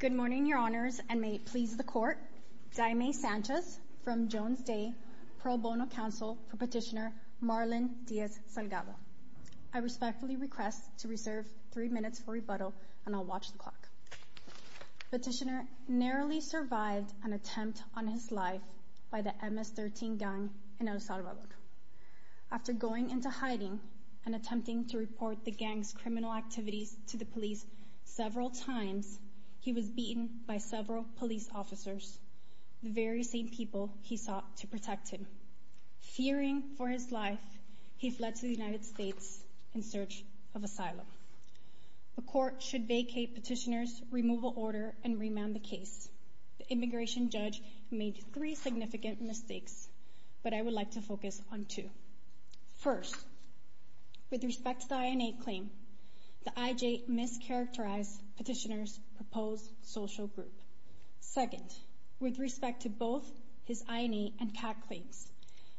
Good morning, your honors, and may it please the court. Di May Sanchez from Jones Day Pro Bono Council for Petitioner Marlon Diaz-Salgado. I respectfully request to reserve three minutes for rebuttal and I'll watch the clock. Petitioner narrowly survived an attempt on his life by the MS-13 gang in El Salvador. After going into hiding and attempting to report the gang's criminal activities to the police several times, he was beaten by several police officers, the very same people he sought to protect him. Fearing for his life, he fled to the United States in search of asylum. The court should vacate Petitioner's removal order and remand the case. The immigration judge made three significant mistakes, but I would like to focus on two. First, with respect to the INA claim, the IJ mischaracterized Petitioner's proposed social group. Second, with respect to both his INA and CAT claims,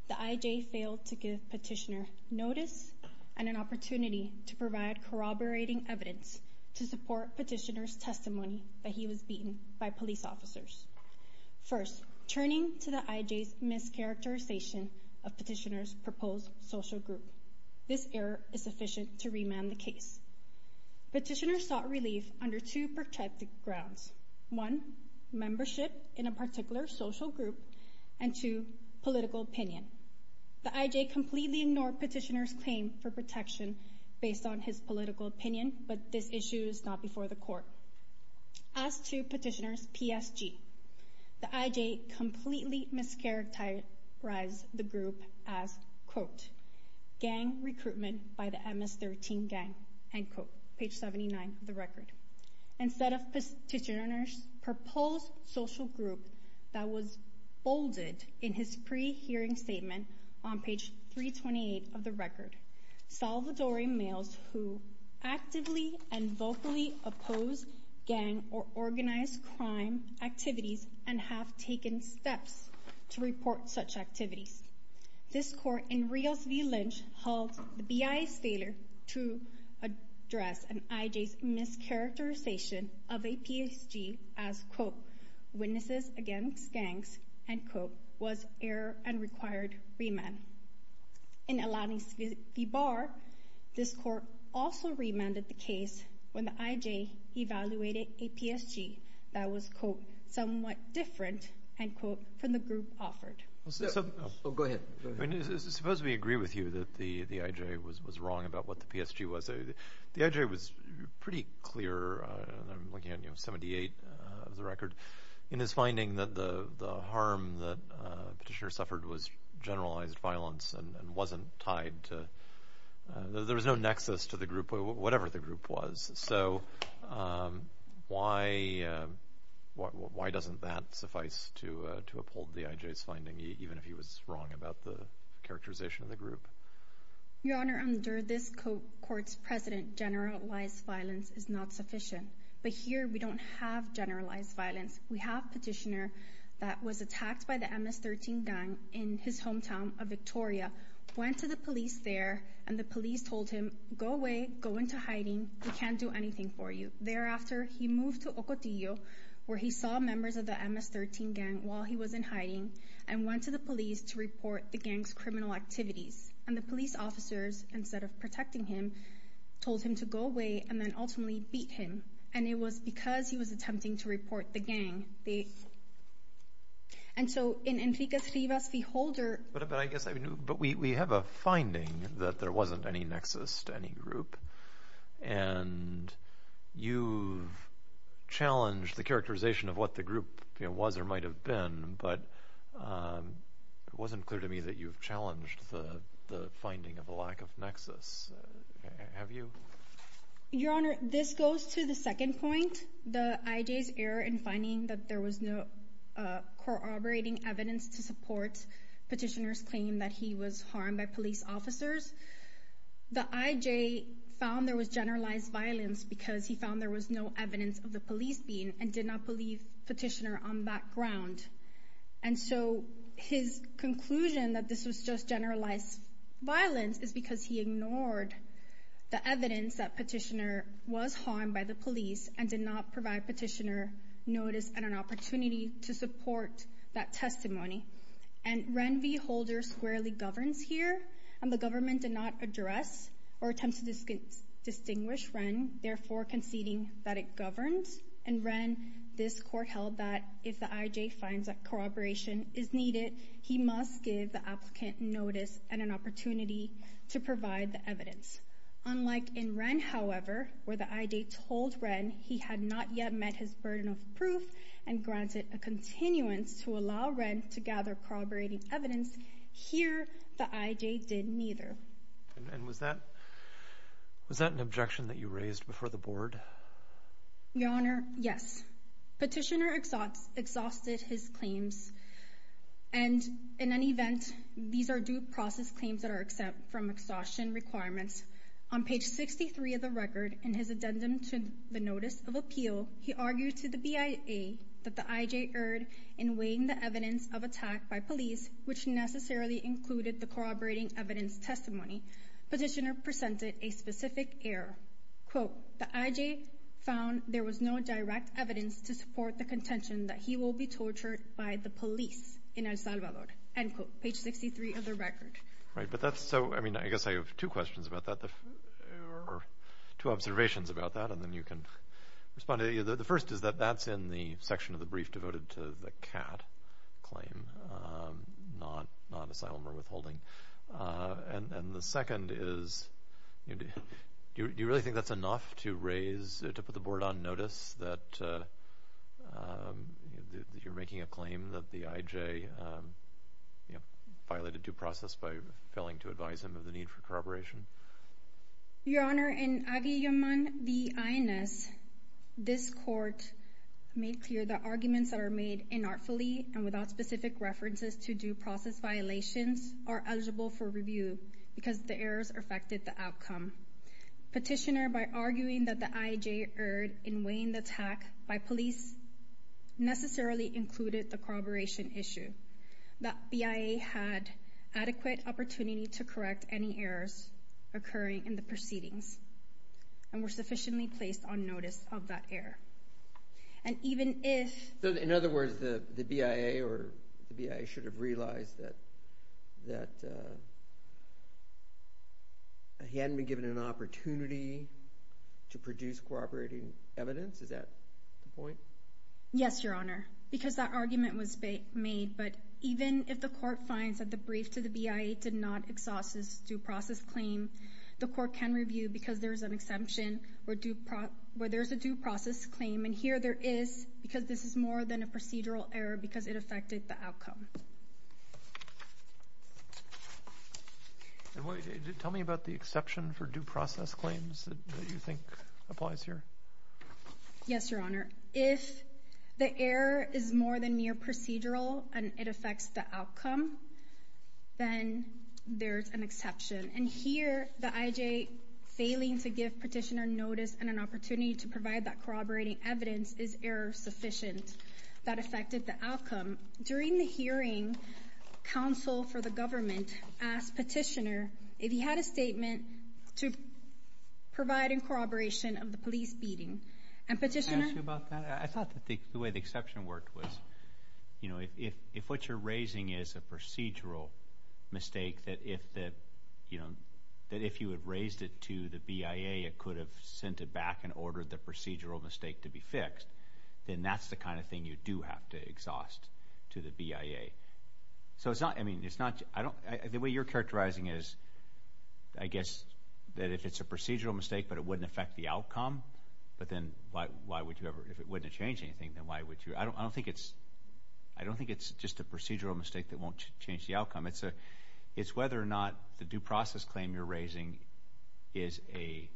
the IJ failed to give Petitioner notice and an opportunity to provide corroborating evidence to support Petitioner's testimony that he was beaten by police officers. First, turning to the IJ's mischaracterization of Petitioner's proposed social group, this error is sufficient to remand the case. Petitioner sought relief under two protracted grounds. One, membership in a particular social group, and two, political opinion. The IJ completely ignored Petitioner's claim for protection based on his political opinion, but this issue is not before the court. As to Petitioner's PSG, the IJ completely mischaracterized the group as, quote, gang recruitment by the MS-13 gang, end quote, page 79 of the record. Instead of Petitioner's proposed social group that was bolded in his pre-hearing statement on page 328 of the record, Salvadorian males who actively and vocally oppose gang or organized crime activities and have taken steps to report such activities. This court in Rios v. Lynch held the BIA's failure to address an IJ's mischaracterization of a PSG as, quote, witnesses against gangs, end quote, was error and required remand. In Alanis v. Barr, this court also remanded the case when the IJ evaluated a PSG that was, quote, Suppose we agree with you that the IJ was wrong about what the PSG was. The IJ was pretty clear, and I'm looking at, you know, 78 of the record, in his finding that the harm that Petitioner suffered was generalized violence and wasn't tied to, there was no nexus to the group, whatever the group was. So why doesn't that suffice to uphold the IJ's finding, even if he was wrong about the characterization of the group? Your Honor, under this court's precedent, generalized violence is not sufficient. But here we don't have generalized violence. We have Petitioner that was attacked by the MS-13 gang in his hometown of Victoria, went to the police there, and the police told him, go away, go into hiding, we can't do anything for you. Thereafter, he moved to Ocotillo, where he saw members of the MS-13 gang while he was in hiding, and went to the police to report the gang's criminal activities. And the police officers, instead of protecting him, told him to go away, and then ultimately beat him. And it was because he was attempting to report the gang. And so in Enrique Rivas v. Holder But we have a finding that there wasn't any nexus to any group. And you've challenged the characterization of what the group was or might have been, but it wasn't clear to me that you've challenged the finding of a lack of nexus. Have you? Your Honor, this goes to the second point, the IJ's error in finding that there was no corroborating evidence to support Petitioner's claim that he was harmed by police officers. The IJ found there was generalized violence because he found there was no evidence of the police being and did not believe Petitioner on that ground. And so his conclusion that this was just generalized violence is because he ignored the evidence that Petitioner was harmed by the police and did not provide Petitioner notice and an opportunity to support that testimony. And Ren v. Holder squarely governs here, and the government did not address or attempt to distinguish Ren, therefore conceding that it governed. And Ren, this court held that if the IJ finds that corroboration is needed, he must give the applicant notice and an opportunity to provide the evidence. Unlike in Ren, however, where the IJ told Ren he had not yet met his burden of proof and granted a continuance to allow Ren to gather corroborating evidence, here the IJ did neither. And was that an objection that you raised before the Board? Your Honor, yes. Petitioner exhausted his claims. And in any event, these are due process claims that are exempt from exhaustion requirements. On page 63 of the record, in his addendum to the notice of appeal, he argued to the BIA that the IJ erred in weighing the evidence of attack by police, which necessarily included the corroborating evidence testimony. Petitioner presented a specific error. Quote, the IJ found there was no direct evidence to support the contention that he will be tortured by the police in El Salvador. End quote. Page 63 of the record. Right, but that's so, I mean, I guess I have two questions about that, or two observations about that, and then you can respond. The first is that that's in the section of the brief devoted to the CAD claim, not asylum or withholding. And the second is, do you really think that's enough to raise, to put the Board on notice that you're making a claim that the IJ violated due process by failing to advise him of the need for corroboration? Your Honor, in Abiy Yaman v. INS, this court made clear that arguments that are made inartfully and without specific references to due process violations are eligible for review because the errors affected the outcome. Petitioner, by arguing that the IJ erred in weighing the attack by police, necessarily included the corroboration issue, that BIA had adequate opportunity to correct any errors occurring in the proceedings and were sufficiently placed on notice of that error. And even if... So, in other words, the BIA should have realized that he hadn't been given an opportunity to produce corroborating evidence? Is that the point? Yes, Your Honor, because that argument was made. But even if the court finds that the brief to the BIA did not exhaust this due process claim, the court can review because there's an exemption where there's a due process claim, and here there is because this is more than a procedural error because it affected the outcome. Tell me about the exception for due process claims that you think applies here. Yes, Your Honor. If the error is more than mere procedural and it affects the outcome, then there's an exception. And here, the IJ failing to give Petitioner notice and an opportunity to provide that corroborating evidence is error-sufficient. That affected the outcome. During the hearing, counsel for the government asked Petitioner if he had a statement to provide in corroboration of the police beating. And Petitioner... Can I ask you about that? I thought that the way the exception worked was, you know, if what you're raising is a procedural mistake, that if you had raised it to the BIA, it could have sent it back and ordered the procedural mistake to be fixed, then that's the kind of thing you do have to exhaust to the BIA. So it's not, I mean, it's not... The way you're characterizing it is, I guess, that if it's a procedural mistake but it wouldn't affect the outcome, but then why would you ever... If it wouldn't have changed anything, then why would you... I don't think it's just a procedural mistake that won't change the outcome. It's whether or not the due process claim you're raising is a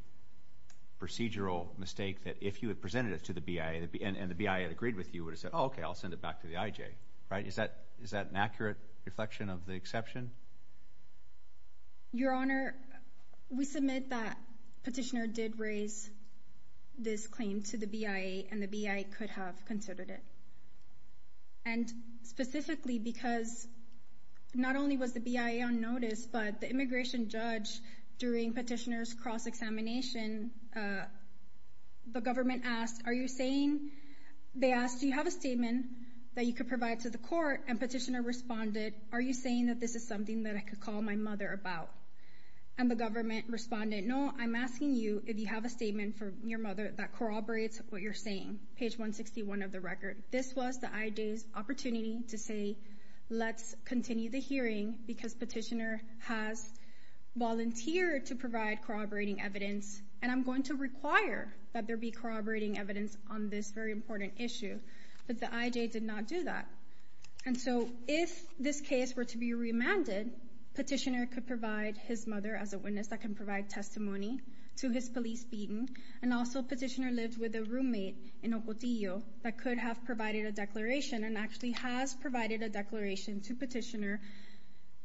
procedural mistake that if you had presented it to the BIA and the BIA had agreed with you, it would have said, oh, okay, I'll send it back to the IJ. Is that an accurate reflection of the exception? Your Honor, we submit that Petitioner did raise this claim to the BIA and the BIA could have considered it. And specifically because not only was the BIA on notice, but the immigration judge during Petitioner's cross-examination, the government asked, are you saying... They asked, do you have a statement that you could provide to the court? And Petitioner responded, are you saying that this is something that I could call my mother about? And the government responded, no, I'm asking you if you have a statement from your mother that corroborates what you're saying, page 161 of the record. This was the IJ's opportunity to say, let's continue the hearing because Petitioner has volunteered to provide corroborating evidence, and I'm going to require that there be corroborating evidence on this very important issue. But the IJ did not do that. And so if this case were to be remanded, Petitioner could provide his mother as a witness that can provide testimony to his police beating, and also Petitioner lived with a roommate in Ocotillo that could have provided a declaration and actually has provided a declaration to Petitioner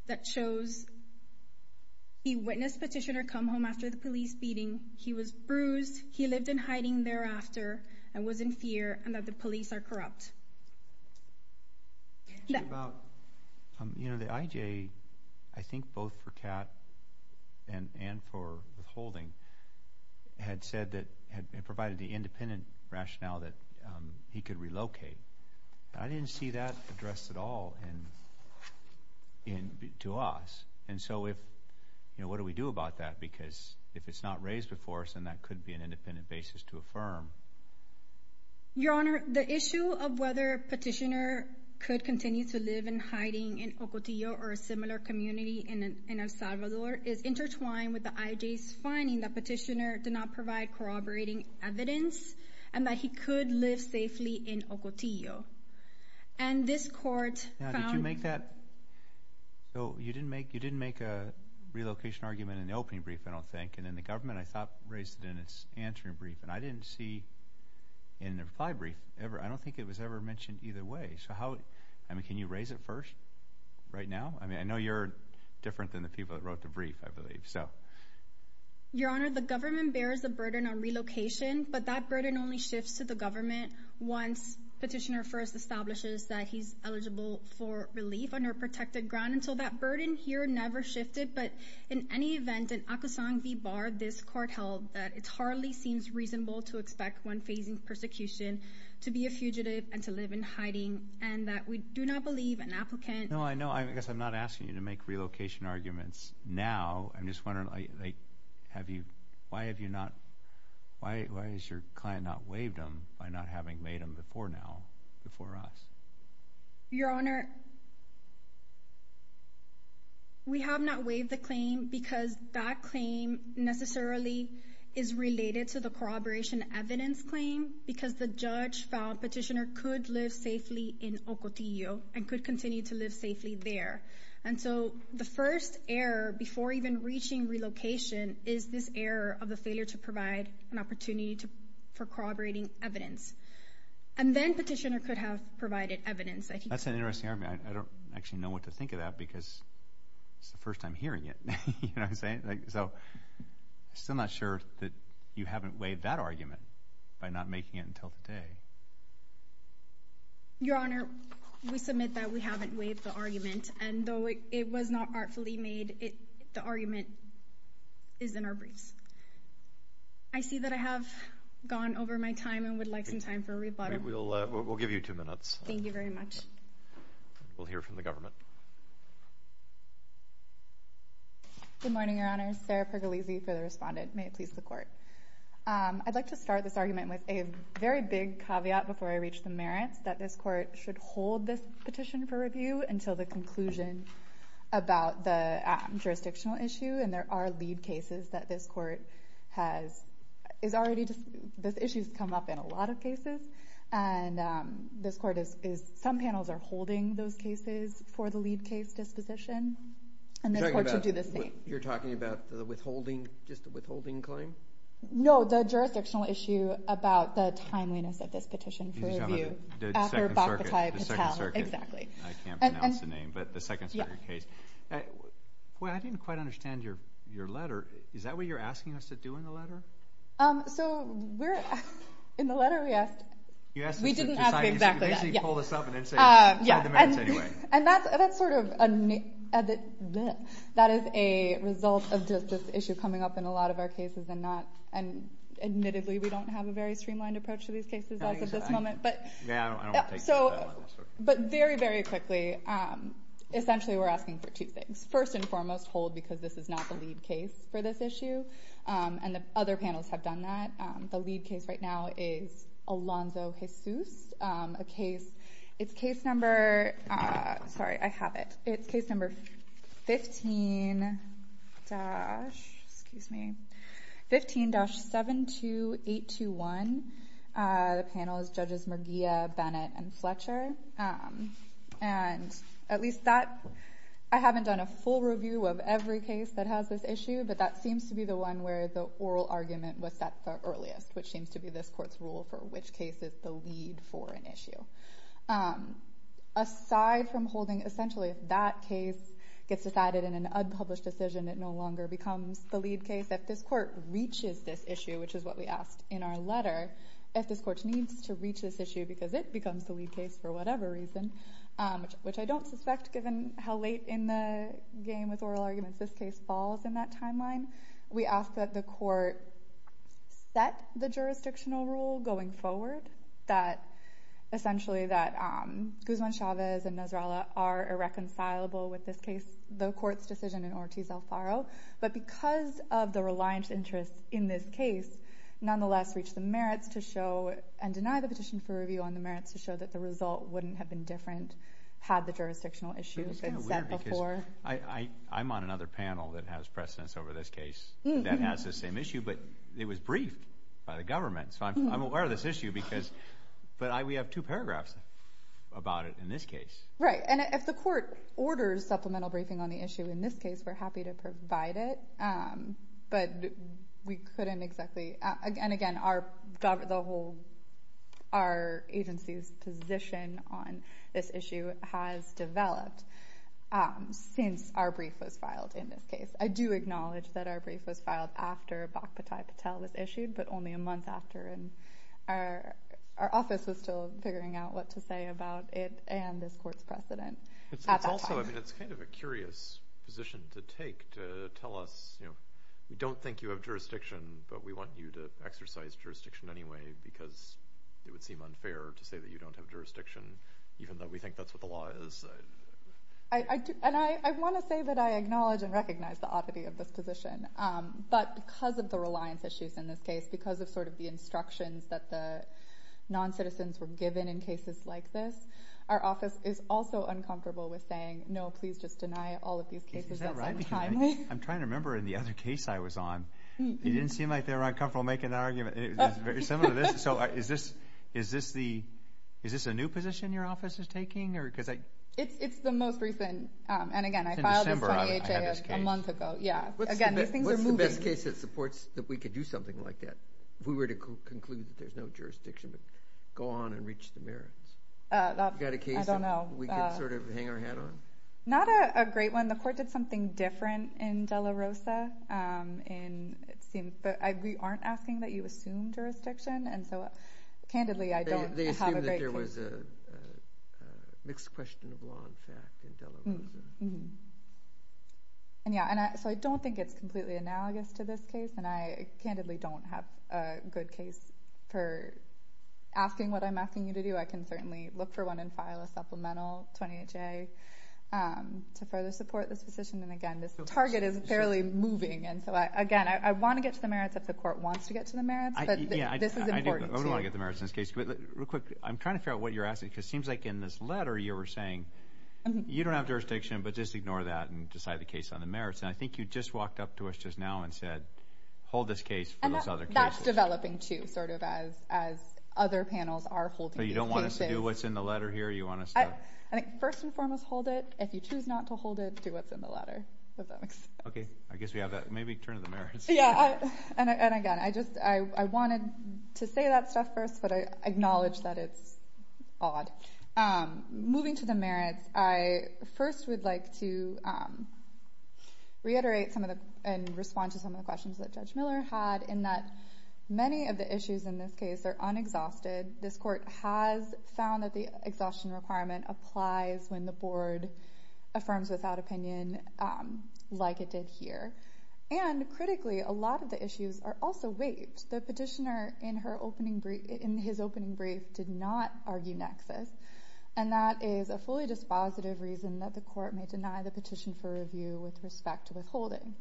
that shows he witnessed Petitioner come home after the police beating, he was bruised, he lived in hiding thereafter, and was in fear, and that the police are corrupt. The IJ, I think both for Catt and for withholding, had said that it provided the independent rationale that he could relocate. I didn't see that addressed at all to us. And so what do we do about that? Because if it's not raised before us, then that could be an independent basis to affirm. Your Honor, the issue of whether Petitioner could continue to live in hiding in Ocotillo or a similar community in El Salvador is intertwined with the IJ's finding that Petitioner did not provide corroborating evidence and that he could live safely in Ocotillo. And this court found – Now, did you make that? So you didn't make a relocation argument in the opening brief, I don't think, and then the government, I thought, raised it in its answering brief, and I didn't see in the reply brief ever – I don't think it was ever mentioned either way. So how – I mean, can you raise it first right now? I mean, I know you're different than the people that wrote the brief, I believe. Your Honor, the government bears the burden on relocation, but that burden only shifts to the government once Petitioner first establishes that he's eligible for relief on a protected ground. And so that burden here never shifted. But in any event, in Acosang v. Barr, this court held that it hardly seems reasonable to expect one facing persecution to be a fugitive and to live in hiding and that we do not believe an applicant – No, I know. I guess I'm not asking you to make relocation arguments now. I'm just wondering, have you – why have you not – why has your client not waived him by not having laid him before now, before us? Your Honor, we have not waived the claim because that claim necessarily is related to the corroboration evidence claim because the judge found Petitioner could live safely in Ocotillo and could continue to live safely there. And so the first error, before even reaching relocation, is this error of the failure to provide an opportunity for corroborating evidence. And then Petitioner could have provided evidence. That's an interesting argument. I don't actually know what to think of that because it's the first time hearing it. You know what I'm saying? So I'm still not sure that you haven't waived that argument by not making it until today. Your Honor, we submit that we haven't waived the argument. And though it was not artfully made, the argument is in our briefs. I see that I have gone over my time and would like some time for a rebuttal. We'll give you two minutes. Thank you very much. We'll hear from the government. Good morning, Your Honor. Sarah Pergolese for the Respondent. May it please the Court. I'd like to start this argument with a very big caveat before I reach the merits, that this Court should hold this petition for review until the conclusion about the jurisdictional issue. And there are lead cases that this Court has. This issue has come up in a lot of cases. And some panels are holding those cases for the lead case disposition. And this Court should do the same. You're talking about just the withholding claim? No, the jurisdictional issue about the timeliness of this petition for review. The Second Circuit. Exactly. I can't pronounce the name, but the Second Circuit case. Boy, I didn't quite understand your letter. Is that what you're asking us to do in the letter? So in the letter we asked. We didn't ask exactly that. You basically pulled us up and said, find the merits anyway. And that's sort of a result of this issue coming up in a lot of our cases. And admittedly, we don't have a very streamlined approach to these cases as of this moment. Yeah, I don't want to take that. But very, very quickly, essentially we're asking for two things. First and foremost, hold because this is not the lead case for this issue. And the other panels have done that. The lead case right now is Alonzo Jesus, a case. It's case number 15-72821. The panel is Judges Merguia, Bennett, and Fletcher. And at least that. I haven't done a full review of every case that has this issue, but that seems to be the one where the oral argument was set the earliest, which seems to be this court's rule for which case is the lead for an issue. Aside from holding essentially if that case gets decided in an unpublished decision, it no longer becomes the lead case. If this court reaches this issue, which is what we asked in our letter, if this court needs to reach this issue because it becomes the lead case for whatever reason, which I don't suspect given how late in the game with oral arguments this case falls in that timeline, we ask that the court set the jurisdictional rule going forward, that essentially that Guzman-Chavez and Nasrallah are irreconcilable with this case, the court's decision in Ortiz-Alfaro. But because of the reliance interest in this case, nonetheless reach the merits to show and deny the petition for review on the merits to show that the result wouldn't have been different had the jurisdictional issue been set before. It's kind of weird because I'm on another panel that has precedence over this case that has this same issue, but it was briefed by the government. So I'm aware of this issue, but we have two paragraphs about it in this case. Right. And if the court orders supplemental briefing on the issue in this case, we're happy to provide it, but we couldn't exactly. And, again, our agency's position on this issue has developed since our brief was filed in this case. I do acknowledge that our brief was filed after Bhakpati Patel was issued, but only a month after, and our office was still figuring out what to say about it and this court's precedent at that time. So, I mean, it's kind of a curious position to take to tell us, you know, we don't think you have jurisdiction, but we want you to exercise jurisdiction anyway because it would seem unfair to say that you don't have jurisdiction even though we think that's what the law is. And I want to say that I acknowledge and recognize the oddity of this position, but because of the reliance issues in this case, because of sort of the instructions that the non-citizens were given in cases like this, our office is also uncomfortable with saying, no, please just deny all of these cases. Is that right? I'm trying to remember in the other case I was on. It didn't seem like they were uncomfortable making that argument. It was very similar to this. So is this a new position your office is taking? It's the most recent. And, again, I filed this 20HA a month ago. What's the best case that supports that we could do something like that if we were to conclude that there's no jurisdiction but go on and reach the merits? You got a case that we can sort of hang our hat on? Not a great one. The court did something different in De La Rosa. But we aren't asking that you assume jurisdiction. And so, candidly, I don't have a great case. They assumed that there was a mixed question of law and fact in De La Rosa. And, yeah, so I don't think it's completely analogous to this case, and I candidly don't have a good case for asking what I'm asking you to do. I can certainly look for one and file a supplemental 20HA to further support this position. And, again, this target is barely moving. And so, again, I want to get to the merits if the court wants to get to the merits, but this is important too. I don't want to get to the merits in this case. Real quick, I'm trying to figure out what you're asking, because it seems like in this letter you were saying you don't have jurisdiction, but just ignore that and decide the case on the merits. And I think you just walked up to us just now and said, hold this case for those other cases. And that's developing, too, sort of as other panels are holding these cases. So you don't want us to do what's in the letter here? I think first and foremost hold it. If you choose not to hold it, do what's in the letter, if that makes sense. Okay. I guess we have that. Maybe turn to the merits. Yeah. And, again, I wanted to say that stuff first, but I acknowledge that it's odd. Moving to the merits, I first would like to reiterate and respond to some of the questions that Judge Miller had in that many of the issues in this case are unexhausted. This court has found that the exhaustion requirement applies when the board affirms without opinion like it did here. And, critically, a lot of the issues are also waived. The petitioner in his opening brief did not argue nexus, and that is a fully dispositive reason that the court may deny the petition for review with respect to withholding.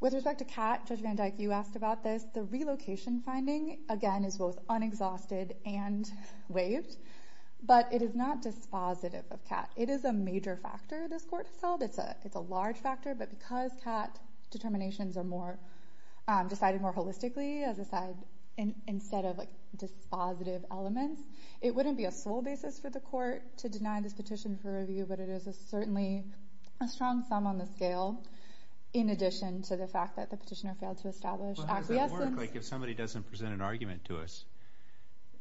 With respect to Catt, Judge Van Dyke, you asked about this. The relocation finding, again, is both unexhausted and waived, but it is not dispositive of Catt. It is a major factor this court has held. It's a large factor, but because Catt determinations are decided more holistically instead of dispositive elements, it wouldn't be a sole basis for the court to deny this petition for review, but it is certainly a strong sum on the scale in addition to the fact that the petitioner failed to establish access. If somebody doesn't present an argument to us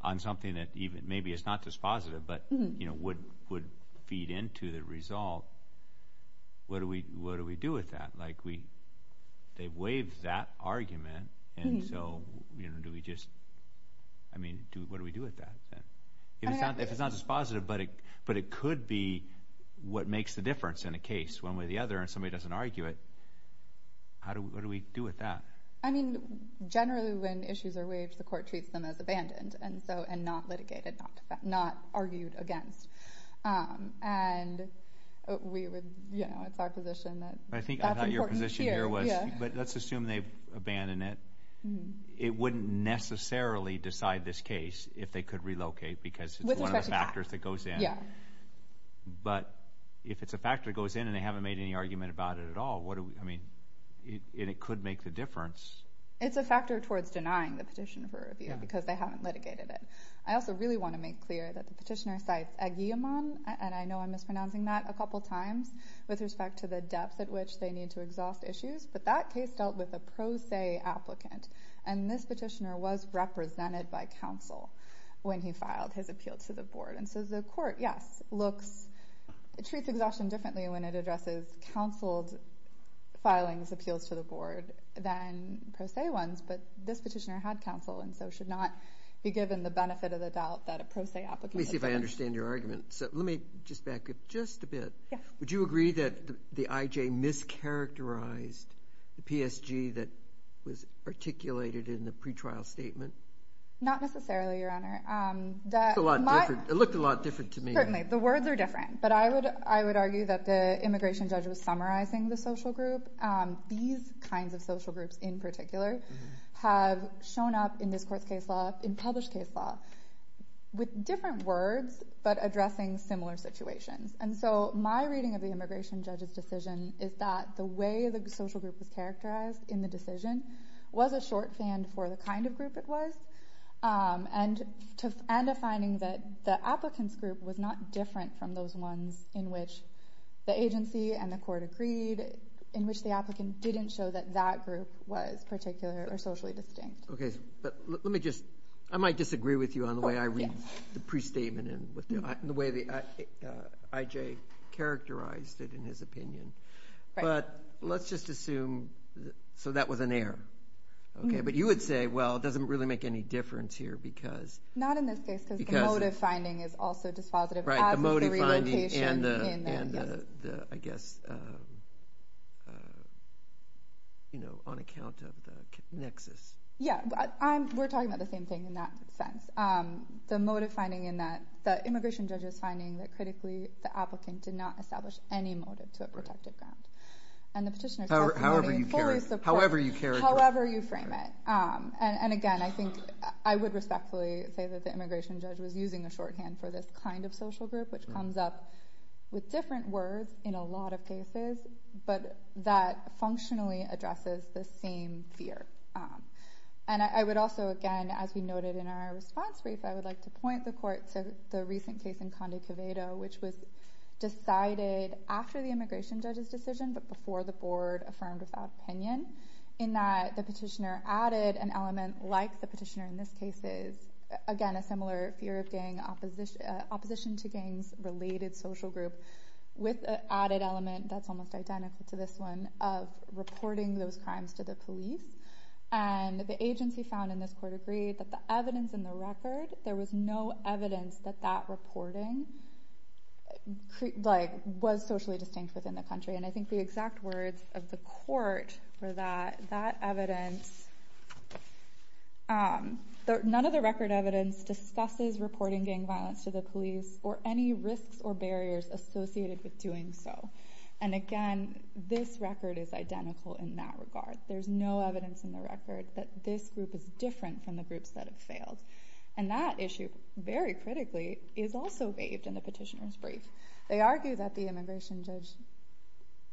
on something that maybe is not dispositive but would feed into the result, what do we do with that? They waived that argument, and so what do we do with that? If it's not dispositive but it could be what makes the difference in a case, one way or the other, and somebody doesn't argue it, what do we do with that? Generally, when issues are waived, the court treats them as abandoned and not litigated, not argued against. It's our position that that's important here. I thought your position here was, let's assume they've abandoned it. It wouldn't necessarily decide this case if they could relocate because it's one of the factors that goes in, but if it's a factor that goes in and they haven't made any argument about it at all, it could make the difference. It's a factor towards denying the petition for review because they haven't litigated it. I also really want to make clear that the petitioner cites a guillemot, and I know I'm mispronouncing that a couple times, with respect to the depth at which they need to exhaust issues, but that case dealt with a pro se applicant, and this petitioner was represented by counsel when he filed his appeal to the board. So the court, yes, treats exhaustion differently when it addresses counseled filings, appeals to the board, than pro se ones, but this petitioner had counsel and so should not be given the benefit of the doubt that a pro se applicant would. Let me see if I understand your argument. Let me just back up just a bit. Would you agree that the IJ mischaracterized the PSG that was articulated in the pretrial statement? Not necessarily, Your Honor. It looked a lot different to me. Certainly. The words are different, but I would argue that the immigration judge was summarizing the social group. These kinds of social groups, in particular, have shown up in this court's case law, in published case law, with different words but addressing similar situations. And so my reading of the immigration judge's decision is that the way the social group was characterized in the decision was a short stand for the kind of group it was, and a finding that the applicant's group was not different from those ones in which the agency and the court agreed, in which the applicant didn't show that that group was particular or socially distinct. Okay. But let me just, I might disagree with you on the way I read the prestatement and the way the IJ characterized it in his opinion. But let's just assume, so that was an error. Okay. But you would say, well, it doesn't really make any difference here because Not in this case because the motive finding is also dispositive as is the relocation in the, I guess, you know, on account of the nexus. Yeah. We're talking about the same thing in that sense. The motive finding in that the immigration judge is finding that, critically, the applicant did not establish any motive to a protected ground. However you frame it. And, again, I think I would respectfully say that the immigration judge was using a shorthand for this kind of social group, which comes up with different words in a lot of cases, but that functionally addresses the same fear. And I would also, again, as we noted in our response brief, I would like to point the court to the recent case in Conde Coveto, which was decided after the immigration judge's decision, but before the board affirmed without opinion, in that the petitioner added an element like the petitioner in this case is, again, a similar fear of gang opposition to gangs-related social group with an added element that's almost identical to this one of reporting those crimes to the police. And the agency found in this court agreed that the evidence in the record, there was no evidence that that reporting was socially distinct within the country. And I think the exact words of the court were that that evidence, none of the record evidence discusses reporting gang violence to the police or any risks or barriers associated with doing so. And, again, this record is identical in that regard. There's no evidence in the record that this group is different from the groups that have failed. And that issue, very critically, is also waived in the petitioner's brief. They argue that the immigration judge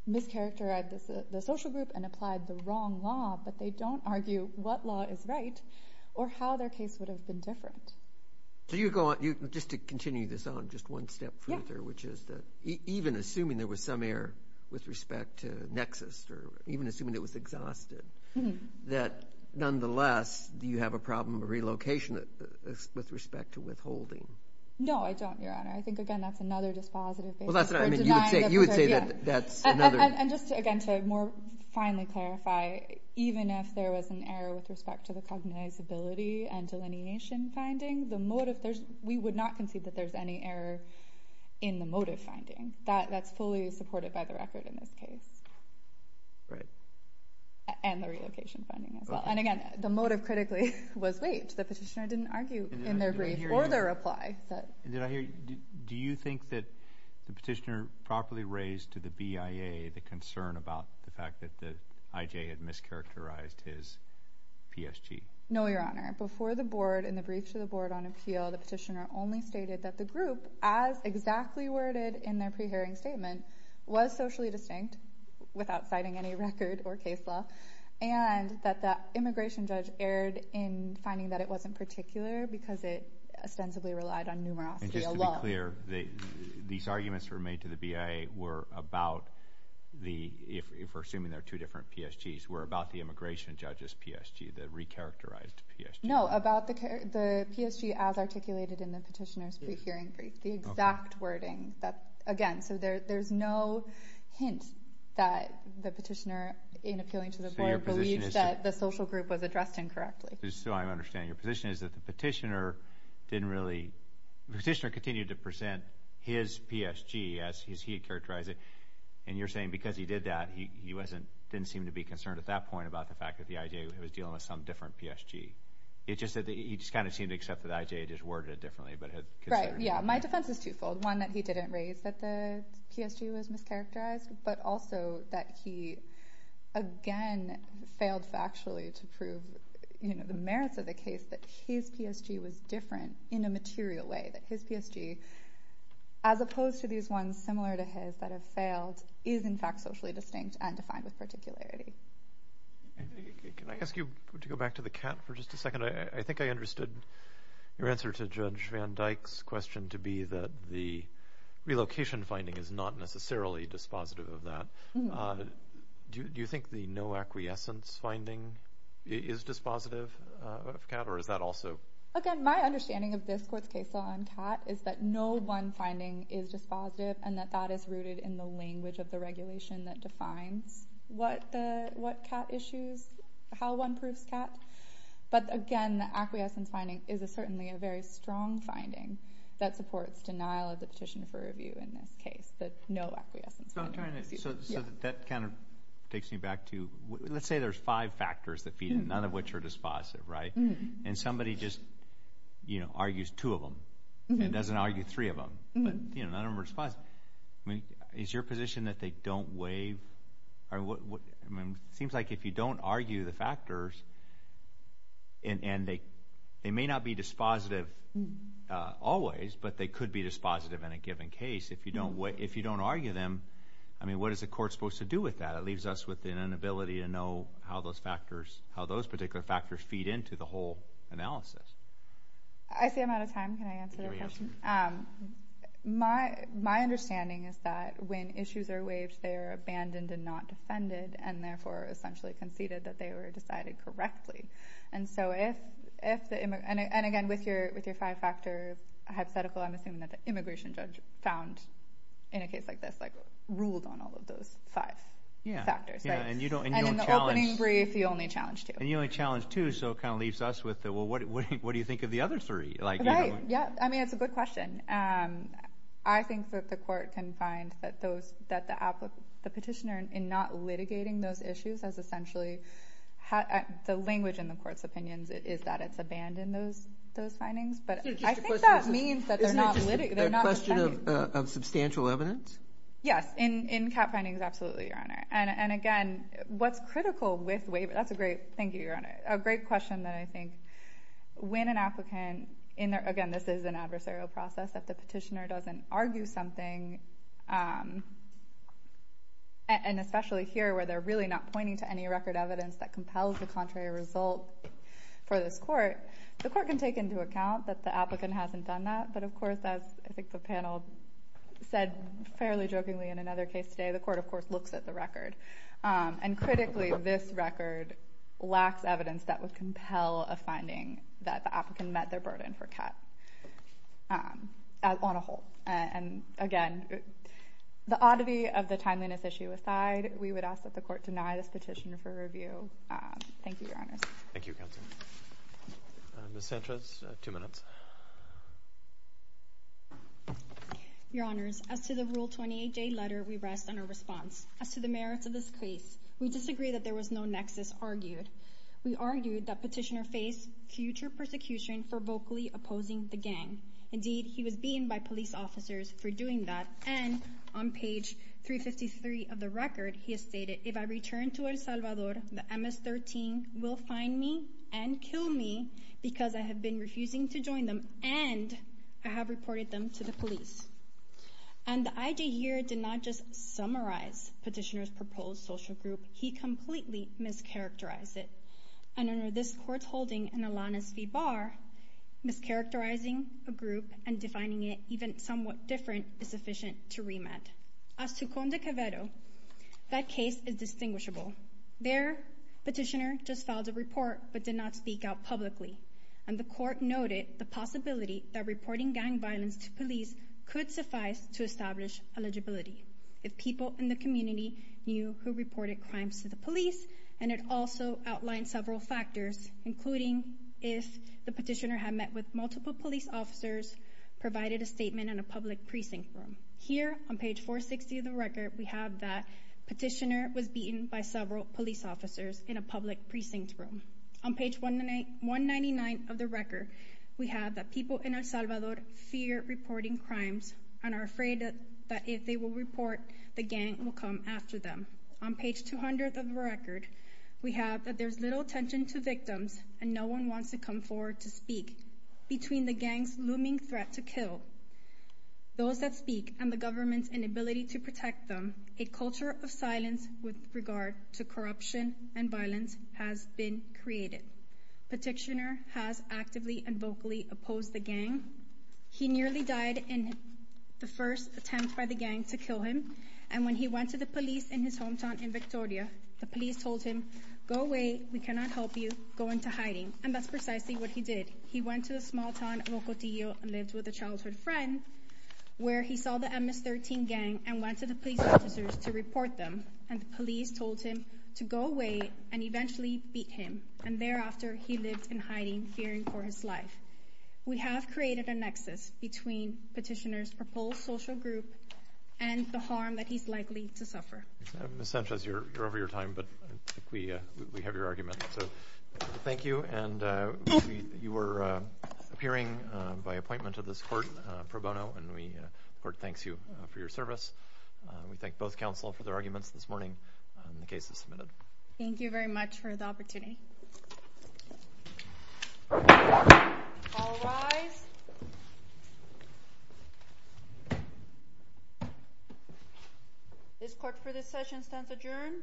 mischaracterized the social group and applied the wrong law, but they don't argue what law is right or how their case would have been different. Just to continue this on just one step further, which is that even assuming there was some error with respect to Nexus or even assuming it was exhausted, that, nonetheless, do you have a problem of relocation with respect to withholding? No, I don't, Your Honor. I think, again, that's another dispositive basis for denying that there's error. And just, again, to more finely clarify, even if there was an error with respect to the cognizability and delineation finding, we would not concede that there's any error in the motive finding. That's fully supported by the record in this case. Right. And the relocation finding as well. And, again, the motive, critically, was waived. The petitioner didn't argue in their brief or their reply. Did I hear you? Do you think that the petitioner properly raised to the BIA the concern about the fact that the IJ had mischaracterized his PSG? No, Your Honor. Before the board, in the brief to the board on appeal, the petitioner only stated that the group, as exactly worded in their pre-hearing statement, was socially distinct, without citing any record or case law, and that the immigration judge erred in finding that it wasn't particular because it ostensibly relied on numerosity alone. And just to be clear, these arguments that were made to the BIA were about the, if we're assuming they're two different PSGs, were about the immigration judge's PSG, the recharacterized PSG. No, about the PSG as articulated in the petitioner's pre-hearing brief, the exact wording. Again, so there's no hint that the petitioner, in appealing to the board, believes that the social group was addressed incorrectly. So I understand. Your position is that the petitioner didn't really, the petitioner continued to present his PSG as he had characterized it, and you're saying because he did that, he didn't seem to be concerned at that point about the fact that the IJ was dealing with some different PSG. It's just that he just kind of seemed to accept that the IJ just worded it differently. Right, yeah. My defense is twofold. One, that he didn't raise that the PSG was mischaracterized, but also that he, again, failed factually to prove the merits of the case, that his PSG was different in a material way, that his PSG, as opposed to these ones similar to his that have failed, is in fact socially distinct and defined with particularity. Can I ask you to go back to the CAT for just a second? I think I understood your answer to Judge Van Dyke's question to be that the relocation finding is not necessarily dispositive of that. Do you think the no acquiescence finding is dispositive of CAT, or is that also? Again, my understanding of this court's case law on CAT is that no one finding is dispositive and that that is rooted in the language of the regulation that defines what CAT issues, how one proves CAT. But, again, the acquiescence finding is certainly a very strong finding that supports denial of the petition for review in this case, the no acquiescence finding. So that kind of takes me back to, let's say there's five factors that feed in, none of which are dispositive, right? And somebody just argues two of them and doesn't argue three of them, but none of them are dispositive. Is your position that they don't waive? It seems like if you don't argue the factors, and they may not be dispositive always, but they could be dispositive in a given case. If you don't argue them, what is the court supposed to do with that? It leaves us with an inability to know how those particular factors feed into the whole analysis. I see I'm out of time. Can I answer your question? My understanding is that when issues are waived, they are abandoned and not defended, and therefore essentially conceded that they were decided correctly. And, again, with your five-factor hypothetical, I'm assuming that the immigration judge found in a case like this ruled on all of those five factors. And in the opening brief, you only challenged two. And you only challenged two, so it kind of leaves us with, well, what do you think of the other three? Right. I mean, it's a good question. I think that the court can find that the petitioner, in not litigating those issues, has essentially had the language in the court's opinions is that it's abandoned those findings. But I think that means that they're not defended. Isn't it just a question of substantial evidence? Yes, in cap findings, absolutely, Your Honor. And, again, what's critical with waivers, that's a great question that I think, when an applicant, again, this is an adversarial process, that the petitioner doesn't argue something, and especially here where they're really not pointing to any record evidence that compels the contrary result for this court, the court can take into account that the applicant hasn't done that. But, of course, as I think the panel said fairly jokingly in another case today, the court, of course, looks at the record. And, critically, this record lacks evidence that would compel a finding that the applicant met their burden for cut on a whole. And, again, the oddity of the timeliness issue aside, we would ask that the court deny this petition for review. Thank you, Your Honors. Thank you, Counsel. Ms. Sanchez, two minutes. Your Honors, as to the Rule 28J letter, we rest on our response. As to the merits of this case, we disagree that there was no nexus argued. We argue that petitioner faced future persecution for vocally opposing the gang. Indeed, he was beaten by police officers for doing that. And, on page 353 of the record, he has stated, if I return to El Salvador, the MS-13 will find me and kill me because I have been refusing to join them and I have reported them to the police. And the IJ here did not just summarize petitioner's proposed social group. He completely mischaracterized it. And under this Court's holding in Alaniz v. Barr, mischaracterizing a group and defining it even somewhat different is sufficient to remand. As to Conde Cavero, that case is distinguishable. There, petitioner just filed a report but did not speak out publicly. And the Court noted the possibility that reporting gang violence to police could suffice to establish eligibility if people in the community knew who reported crimes to the police. And it also outlined several factors, including if the petitioner had met with multiple police officers, provided a statement in a public precinct room. Here, on page 460 of the record, we have that petitioner was beaten by several police officers in a public precinct room. On page 199 of the record, we have that people in El Salvador fear reporting crimes and are afraid that if they will report, the gang will come after them. On page 200 of the record, we have that there's little attention to victims and no one wants to come forward to speak between the gang's looming threat to kill. Those that speak and the government's inability to protect them, a culture of silence with regard to corruption and violence has been created. Petitioner has actively and vocally opposed the gang. He nearly died in the first attempt by the gang to kill him. And when he went to the police in his hometown in Victoria, the police told him, go away, we cannot help you, go into hiding. And that's precisely what he did. He went to a small town, Rocotillo, and lived with a childhood friend where he saw the MS-13 gang and went to the police officers to report them. And the police told him to go away and eventually beat him. And thereafter, he lived in hiding, fearing for his life. We have created a nexus between petitioner's proposed social group and the harm that he's likely to suffer. Ms. Sanchez, you're over your time, but we have your argument. So thank you. And you were appearing by appointment of this court pro bono, and the court thanks you for your service. We thank both counsel for their arguments this morning, and the case is submitted. Thank you very much for the opportunity. All rise. This court for this session stands adjourned.